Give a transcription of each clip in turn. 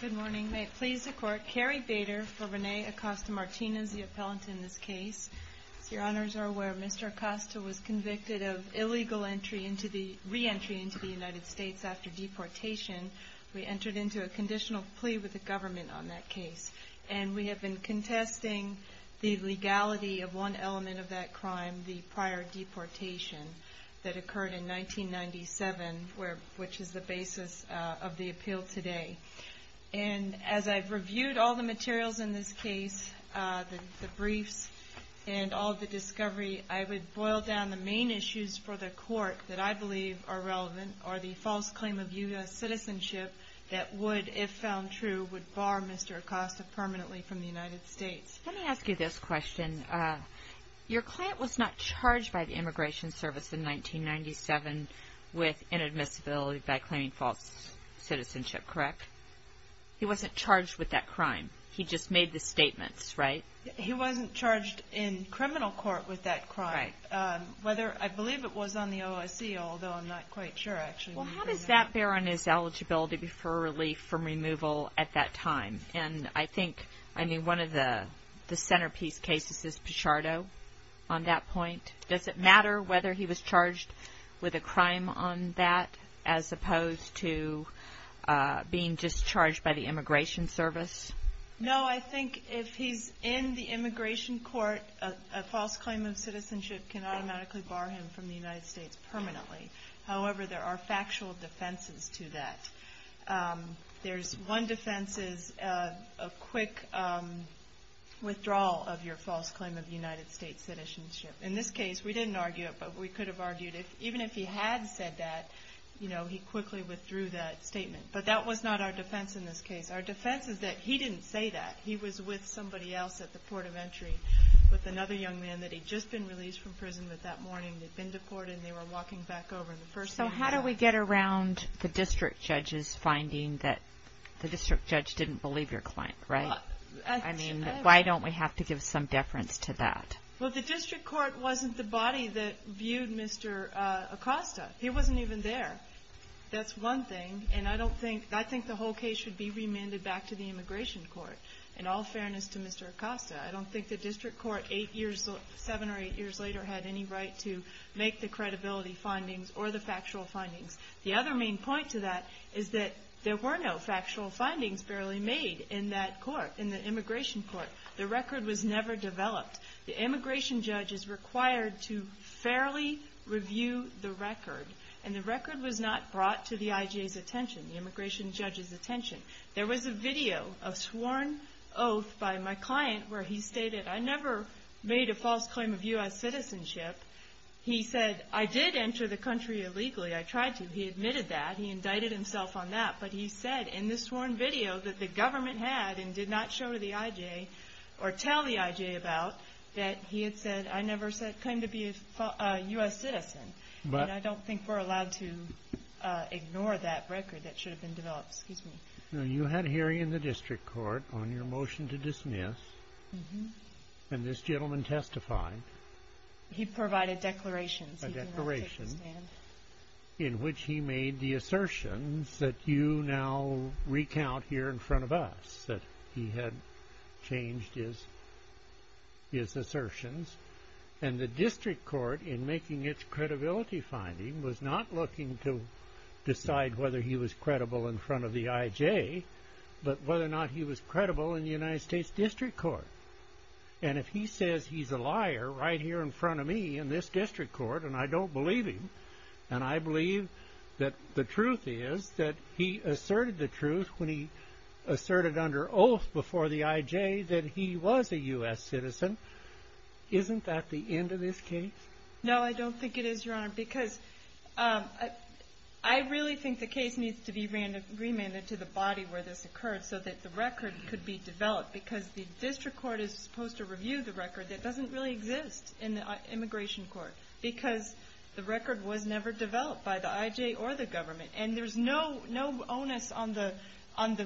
Good morning. May it please the Court, Carrie Bader for Rene Acosta-Martinez, the appellant in this case. As your Honours are aware, Mr. Acosta was convicted of illegal re-entry into the United States after deportation. We entered into a conditional plea with the government on that case. And we have been contesting the legality of one element of that crime, the prior deportation, that occurred in 1997, which is the basis of the appeal today. And as I've reviewed all the materials in this case, the briefs and all of the discovery, I would boil down the main issues for the Court that I believe are relevant, or the false claim of U.S. citizenship that would, if found true, would bar Mr. Acosta permanently from the United States. Let me ask you this question. Your client was not charged by the Immigration Service in 1997 with inadmissibility by claiming false citizenship, correct? He wasn't charged with that crime. He just made the statements, right? He wasn't charged in criminal court with that crime. Right. Whether, I believe it was on the OSC, although I'm not quite sure, actually. Well, how does that bear on his eligibility for relief from removal at that time? And I think, I mean, one of the centerpiece cases is Pichardo on that point. Does it matter whether he was charged with a crime on that as opposed to being discharged by the Immigration Service? No, I think if he's in the Immigration Court, a false claim of citizenship can automatically bar him from the United States permanently. However, there are factual defenses to that. There's one defense is a quick withdrawal of your false claim of United States citizenship. In this case, we didn't argue it, but we could have argued it. Even if he had said that, you know, he quickly withdrew that statement. But that was not our defense in this case. Our defense is that he didn't say that. He was with somebody else at the port of entry with another young man that had just been released from prison, but that morning they'd been deported and they were walking back over. So how do we get around the district judge's finding that the district judge didn't believe your claim, right? I mean, why don't we have to give some deference to that? Well, the district court wasn't the body that viewed Mr. Acosta. He wasn't even there. That's one thing. And I don't think, I think the whole case should be remanded back to the Immigration Court. In all fairness to Mr. Acosta, I don't think the district court eight years, seven or eight years later, had any right to make the credibility findings or the factual findings. The other main point to that is that there were no factual findings barely made in that court, in the Immigration Court. The record was never developed. The immigration judge is required to fairly review the record, and the record was not brought to the IJA's attention, the immigration judge's attention. There was a video of sworn oath by my client where he stated, I never made a false claim of U.S. citizenship. He said, I did enter the country illegally. I tried to. He admitted that. He indicted himself on that. But he said in the sworn video that the government had and did not show to the IJA or tell the IJA about, that he had said, I never said claim to be a U.S. citizen. I don't think we're allowed to ignore that record that should have been developed. Excuse me. You had hearing in the district court on your motion to dismiss, and this gentleman testified. He provided declarations. A declaration in which he made the assertions that you now recount here in front of us, that he had changed his assertions. And the district court, in making its credibility finding, was not looking to decide whether he was credible in front of the IJA, but whether or not he was credible in the United States district court. And if he says he's a liar right here in front of me in this district court, and I don't believe him, and I believe that the truth is that he asserted the truth when he asserted under oath before the IJA that he was a U.S. citizen, isn't that the end of this case? No, I don't think it is, Your Honor, because I really think the case needs to be remanded to the body where this occurred so that the record could be developed, because the district court is supposed to review the record that doesn't really exist in the immigration court, because the record was never developed by the IJA or the government. And there's no onus on the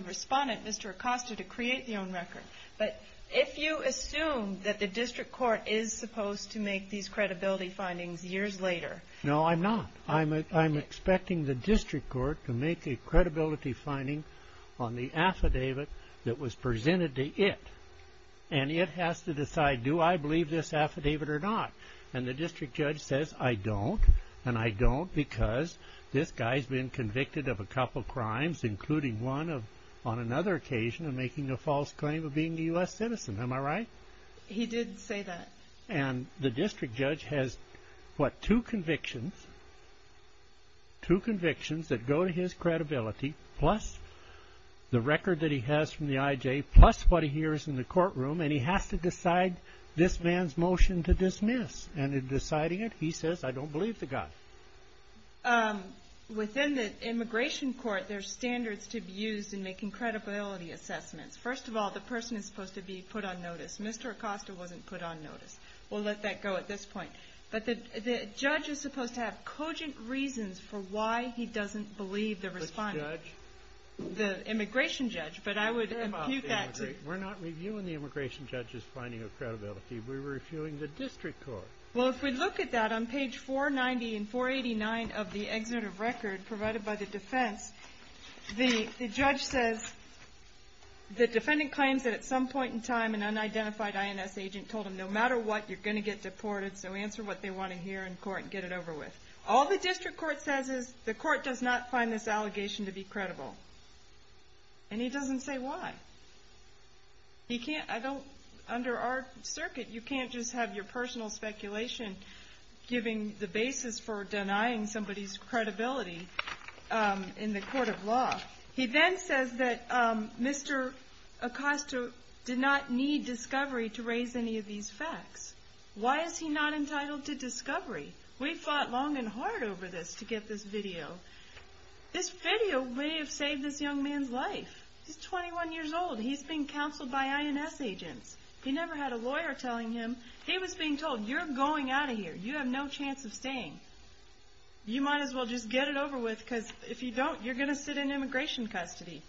respondent, Mr. Acosta, to create their own record. But if you assume that the district court is supposed to make these credibility findings years later... No, I'm not. I'm expecting the district court to make a credibility finding on the affidavit that was presented to it, and it has to decide, do I believe this affidavit or not? And the district judge says, I don't, and I don't because this guy's been convicted of a couple crimes, including one on another occasion of making a false claim of being a U.S. citizen, am I right? He did say that. And the district judge has, what, two convictions, two convictions that go to his credibility, plus the record that he has from the IJA, plus what he hears in the courtroom, and he has to decide this man's motion to dismiss. And in deciding it, he says, I don't believe the guy. Within the immigration court, there's standards to be used in making credibility assessments. First of all, the person is supposed to be put on notice. Mr. Acosta wasn't put on notice. We'll let that go at this point. But the judge is supposed to have cogent reasons for why he doesn't believe the respondent. Which judge? The immigration judge, but I would impute that to... We're not reviewing the immigration judge's finding of credibility. We're reviewing the district court. Well, if we look at that on page 490 and 489 of the excerpt of record provided by the defense, the judge says the defendant claims that at some point in time an unidentified INS agent told him, no matter what, you're going to get deported, so answer what they want to hear in court and get it over with. All the district court says is the court does not find this allegation to be credible. And he doesn't say why. Under our circuit, you can't just have your personal speculation giving the basis for denying somebody's credibility in the court of law. He then says that Mr. Acosta did not need discovery to raise any of these facts. Why is he not entitled to discovery? We fought long and hard over this to get this video. This video may have saved this young man's life. He's 21 years old. He's being counseled by INS agents. He never had a lawyer telling him. He was being told, you're going out of here. You have no chance of staying. You might as well just get it over with because if you don't, you're going to sit in immigration custody.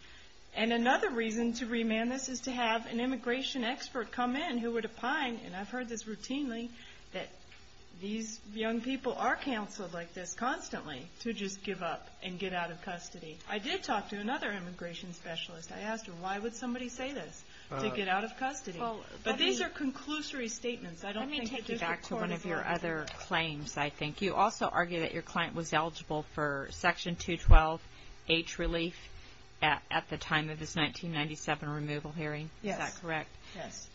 And another reason to remand this is to have an immigration expert come in who would opine, and I've heard this routinely, that these young people are counseled like this constantly to just give up and get out of custody. I did talk to another immigration specialist. I asked her, why would somebody say this, to get out of custody? But these are conclusory statements. I don't think the district court is. Let me take you back to one of your other claims, I think. You also argue that your client was eligible for Section 212H relief at the time of this 1997 removal hearing. Yes. Is that correct? Yes.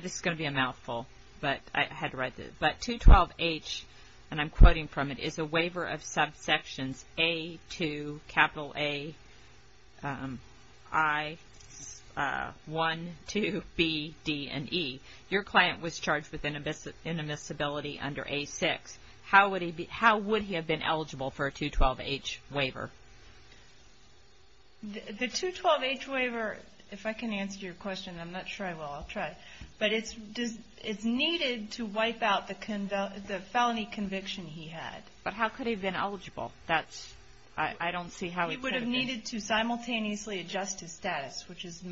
This is going to be a mouthful, but I had to write this. But 212H, and I'm quoting from it, is a waiver of subsections A2, capital A, I, 1, 2, B, D, and E. Your client was charged with inadmissibility under A6. How would he have been eligible for a 212H waiver? The 212H waiver, if I can answer your question, I'm not sure I will. I'll try. But it's needed to wipe out the felony conviction he had. But how could he have been eligible? I don't see how it could have been. He would have needed to simultaneously adjust his status, which is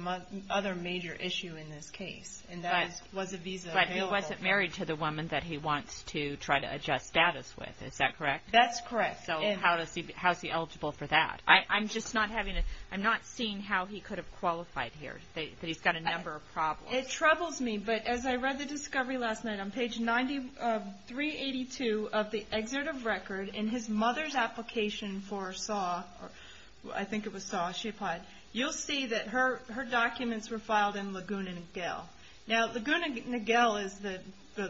another major issue in this case. And there was a visa available. But he wasn't married to the woman that he wants to try to adjust status with. Is that correct? That's correct. So how is he eligible for that? I'm just not seeing how he could have qualified here. He's got a number of problems. It troubles me, but as I read the discovery last night on page 382 of the excerpt of record, in his mother's application for SAW, I think it was SAW she applied, you'll see that her documents were filed in Laguna Niguel. Now, Laguna Niguel is the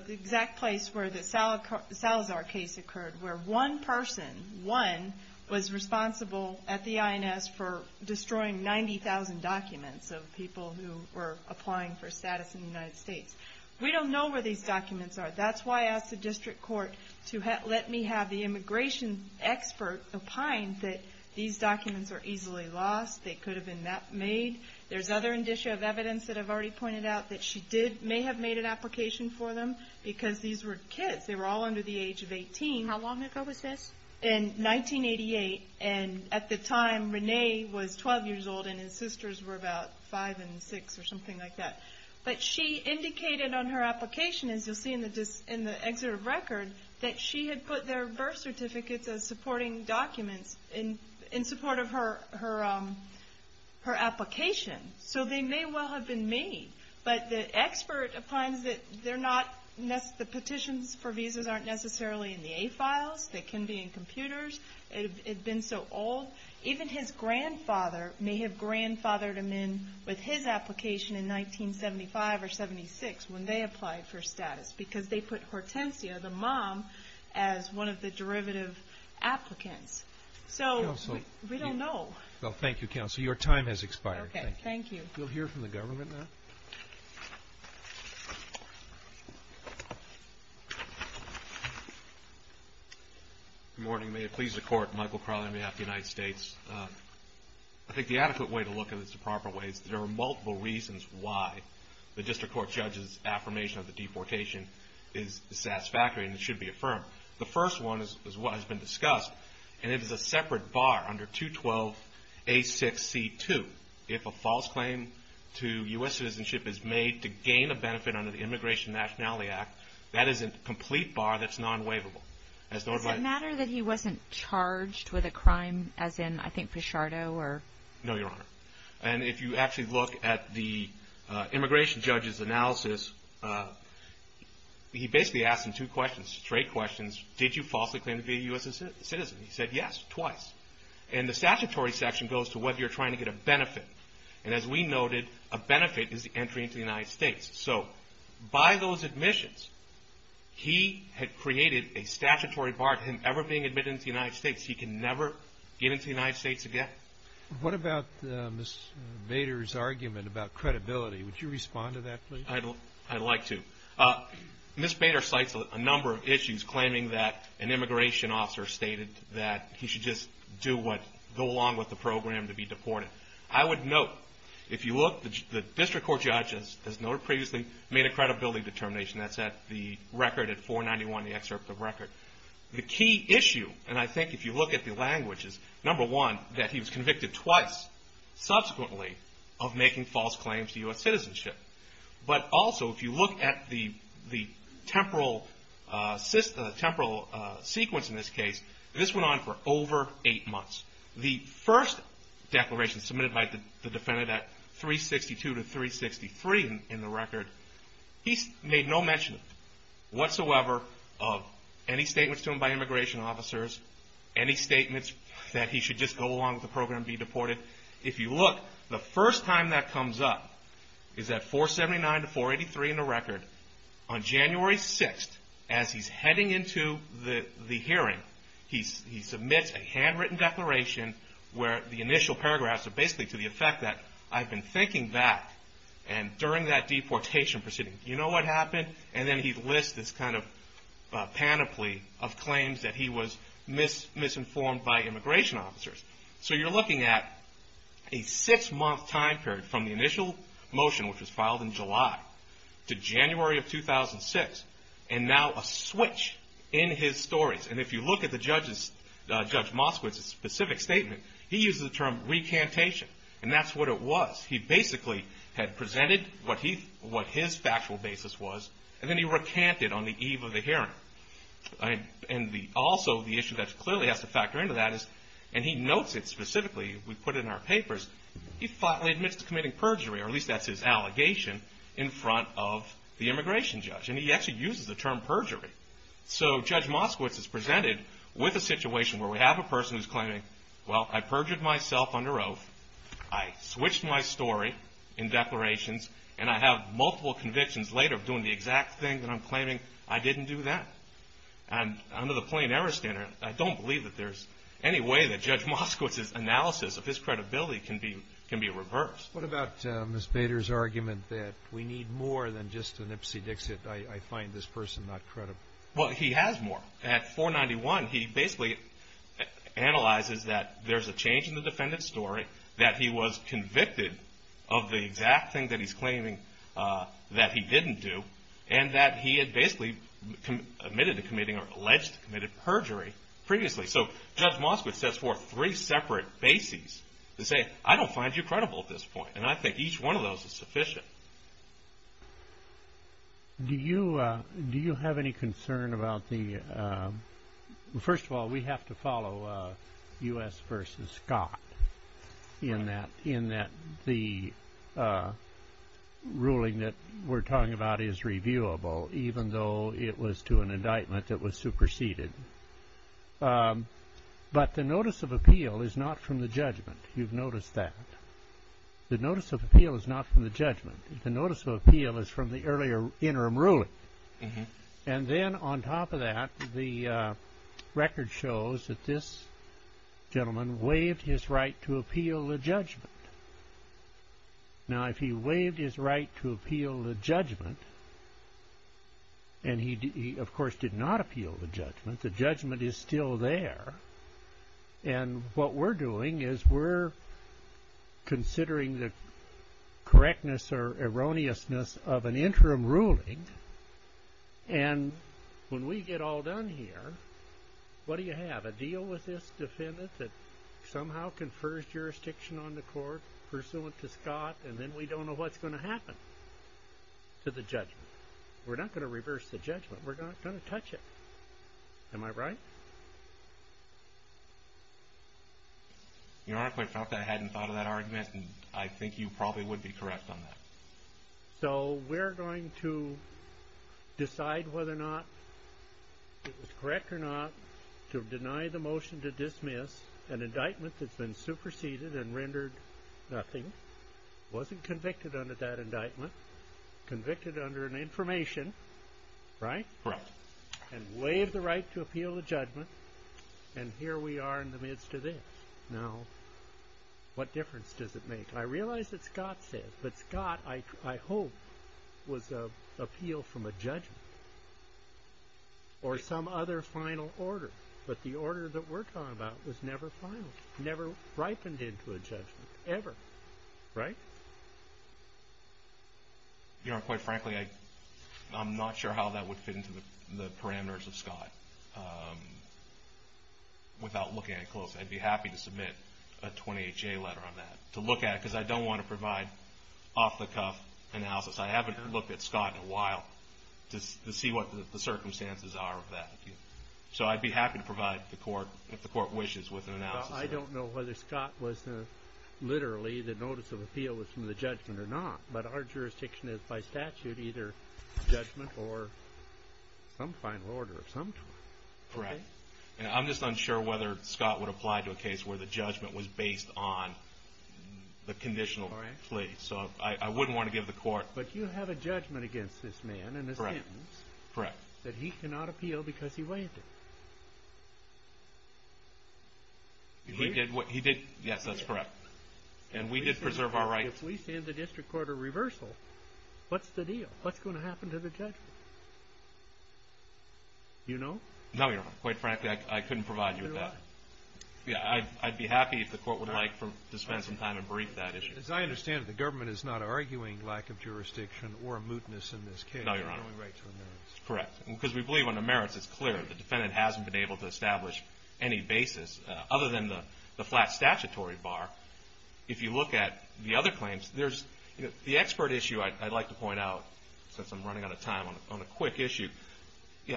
exact place where the Salazar case occurred, where one person, one, was responsible at the INS for destroying 90,000 documents of people who were applying for status in the United States. We don't know where these documents are. That's why I asked the district court to let me have the immigration expert opine that these documents are easily lost, they could have been made. There's other indicia of evidence that I've already pointed out that she did, may have made an application for them because these were kids. They were all under the age of 18. How long ago was this? In 1988, and at the time, Rene was 12 years old, and his sisters were about five and six or something like that. But she indicated on her application, as you'll see in the excerpt of record, that she had put their birth certificates as supporting documents in support of her application, so they may well have been made. But the expert opines that the petitions for visas aren't necessarily in the A files. They can be in computers. It had been so old. Even his grandfather may have grandfathered them in with his application in 1975 or 76 when they applied for status because they put Hortensia, the mom, as one of the derivative applicants. So we don't know. Well, thank you, Counsel. Your time has expired. Okay. Thank you. You'll hear from the government now. Good morning. May it please the Court. Michael Crowley on behalf of the United States. I think the adequate way to look at this the proper way is there are multiple reasons why the district court judge's affirmation of the deportation is satisfactory, and it should be affirmed. The first one has been discussed, and it is a separate bar under 212A6C2. If a false claim to U.S. citizenship is made to gain a benefit under the Immigration and Nationality Act, that is a complete bar that's non-waivable. Does it matter that he wasn't charged with a crime as in, I think, Fischardo? No, Your Honor. And if you actually look at the immigration judge's analysis, he basically asked him two questions, straight questions. Did you falsely claim to be a U.S. citizen? He said, yes, twice. And the statutory section goes to whether you're trying to get a benefit. And as we noted, a benefit is the entry into the United States. So by those admissions, he had created a statutory bar to him ever being admitted into the United States. He can never get into the United States again. What about Ms. Bader's argument about credibility? Would you respond to that, please? I'd like to. Ms. Bader cites a number of issues claiming that an immigration officer stated that he should just go along with the program to be deported. I would note, if you look, the district court judge, as noted previously, made a credibility determination. That's at the record at 491, the excerpt of the record. The key issue, and I think if you look at the language, is, number one, that he was convicted twice, subsequently, of making false claims to U.S. citizenship. But also, if you look at the temporal sequence in this case, this went on for over eight months. The first declaration submitted by the defendant at 362 to 363 in the record, he made no mention whatsoever of any statements to him by immigration officers, any statements that he should just go along with the program and be deported. If you look, the first time that comes up is at 479 to 483 in the record. On January 6th, as he's heading into the hearing, he submits a handwritten declaration where the initial paragraphs are basically to the effect that, I've been thinking back, and during that deportation proceeding, do you know what happened? And then he lists this kind of panoply of claims that he was misinformed by immigration officers. So you're looking at a six-month time period from the initial motion, which was filed in July, to January of 2006, and now a switch in his stories. And if you look at Judge Moskowitz's specific statement, he uses the term recantation, and that's what it was. He basically had presented what his factual basis was, and also the issue that clearly has to factor into that is, and he notes it specifically, we put it in our papers, he flatly admits to committing perjury, or at least that's his allegation, in front of the immigration judge. And he actually uses the term perjury. So Judge Moskowitz is presented with a situation where we have a person who's claiming, well, I perjured myself under oath, I switched my story in declarations, and I have multiple convictions later of doing the exact thing that I'm claiming. I didn't do that. And under the plain error standard, I don't believe that there's any way that Judge Moskowitz's analysis of his credibility can be reversed. What about Ms. Bader's argument that we need more than just a nipsey-dixit? I find this person not credible. Well, he has more. At 491, he basically analyzes that there's a change in the defendant's story, that he was convicted of the exact thing that he's claiming that he didn't do, and that he had basically admitted to committing or alleged to committing perjury previously. So Judge Moskowitz sets forth three separate bases to say, I don't find you credible at this point, and I think each one of those is sufficient. Do you have any concern about the ‑‑ first of all, we have to follow U.S. v. Scott in that the ruling that we're talking about is reviewable, even though it was to an indictment that was superseded. But the notice of appeal is not from the judgment. You've noticed that. The notice of appeal is not from the judgment. The notice of appeal is from the earlier interim ruling. And then on top of that, the record shows that this gentleman waived his right to appeal the judgment. Now, if he waived his right to appeal the judgment, and he, of course, did not appeal the judgment, the judgment is still there. And what we're doing is we're considering the correctness or erroneousness of an interim ruling, and when we get all done here, what do you have? A deal with this defendant that somehow confers jurisdiction on the court pursuant to Scott, and then we don't know what's going to happen to the judgment. We're not going to reverse the judgment. We're not going to touch it. Am I right? Your Honor, I felt I hadn't thought of that argument, and I think you probably would be correct on that. So we're going to decide whether or not it was correct or not to deny the motion to dismiss an indictment that's been superseded and rendered nothing, wasn't convicted under that indictment, convicted under an information, right? Correct. And waived the right to appeal the judgment, and here we are in the midst of this. Now, what difference does it make? I realize that Scott said it, but Scott, I hope, was appealed from a judgment or some other final order, but the order that we're talking about was never final, never ripened into a judgment ever, right? Your Honor, quite frankly, I'm not sure how that would fit into the parameters of Scott. Without looking at it closely, I'd be happy to submit a 28-J letter on that, to look at it because I don't want to provide off-the-cuff analysis. I haven't looked at Scott in a while to see what the circumstances are of that. So I'd be happy to provide the court, if the court wishes, with an analysis. I don't know whether Scott was literally the notice of appeal was from the judgment or not, but our jurisdiction is by statute either judgment or some final order of some sort. Correct. And I'm just unsure whether Scott would apply to a case where the judgment was based on the conditional plea. So I wouldn't want to give the court— But you have a judgment against this man and a sentence that he cannot appeal because he waived it. He did. Yes, that's correct. And we did preserve our rights. If we send the district court a reversal, what's the deal? What's going to happen to the judgment? You know? No, Your Honor. Quite frankly, I couldn't provide you with that. I'd be happy if the court would like to spend some time and brief that issue. As I understand it, the government is not arguing lack of jurisdiction or a mootness in this case. No, Your Honor. Correct, because we believe under merits it's clear. The defendant hasn't been able to establish any basis other than the flat statutory bar. If you look at the other claims, there's the expert issue I'd like to point out, since I'm running out of time on a quick issue.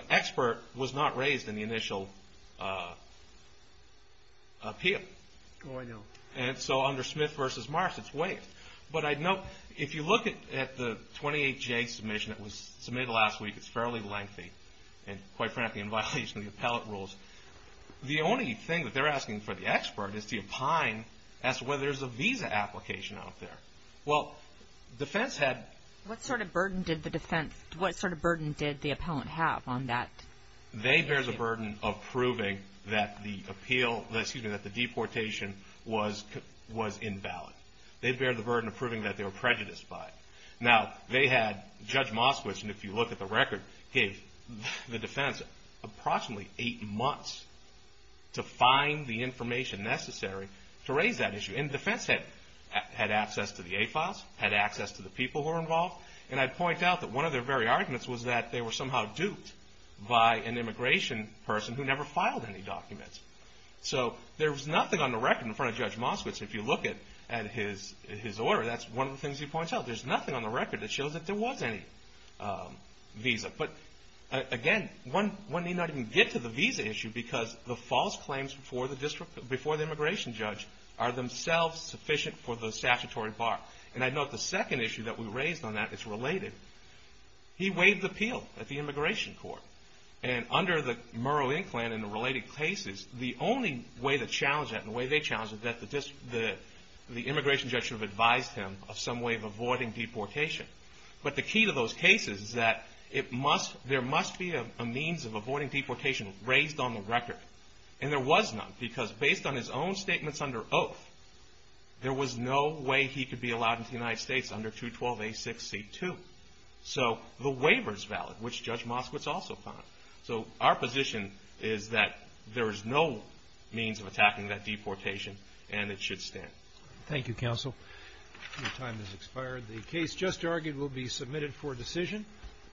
Expert was not raised in the initial appeal. Oh, I know. And so under Smith v. Marsh, it's waived. But I'd note, if you look at the 28J submission that was submitted last week, it's fairly lengthy. And quite frankly, in violation of the appellate rules, the only thing that they're asking for the expert is to opine as to whether there's a visa application out there. Well, defense had... What sort of burden did the defense, what sort of burden did the appellant have on that? They bear the burden of proving that the appeal, excuse me, that the deportation was invalid. They bear the burden of proving that they were prejudiced by it. Now, they had, Judge Moskowitz, and if you look at the record, gave the defense approximately eight months to find the information necessary to raise that issue. And defense had access to the A-files, had access to the people who were involved, and I'd point out that one of their very arguments was that they were somehow duped by an immigration person who never filed any documents. So there was nothing on the record in front of Judge Moskowitz. If you look at his order, that's one of the things he points out. There's nothing on the record that shows that there was any visa. But again, one need not even get to the visa issue because the false claims before the immigration judge are themselves sufficient for the statutory bar. And I'd note the second issue that we raised on that is related. He waived the appeal at the immigration court. And under the Murrow-Inkland and the related cases, the only way to challenge that and the way they challenged it is that the immigration judge should have advised him of some way of avoiding deportation. But the key to those cases is that there must be a means of avoiding deportation raised on the record. And there was none because based on his own statements under oath, there was no way he could be allowed into the United States under 212A6C2. So the waiver is valid, which Judge Moskowitz also found. So our position is that there is no means of attacking that deportation and it should stand. Thank you, counsel. Your time has expired. The case just argued will be submitted for decision.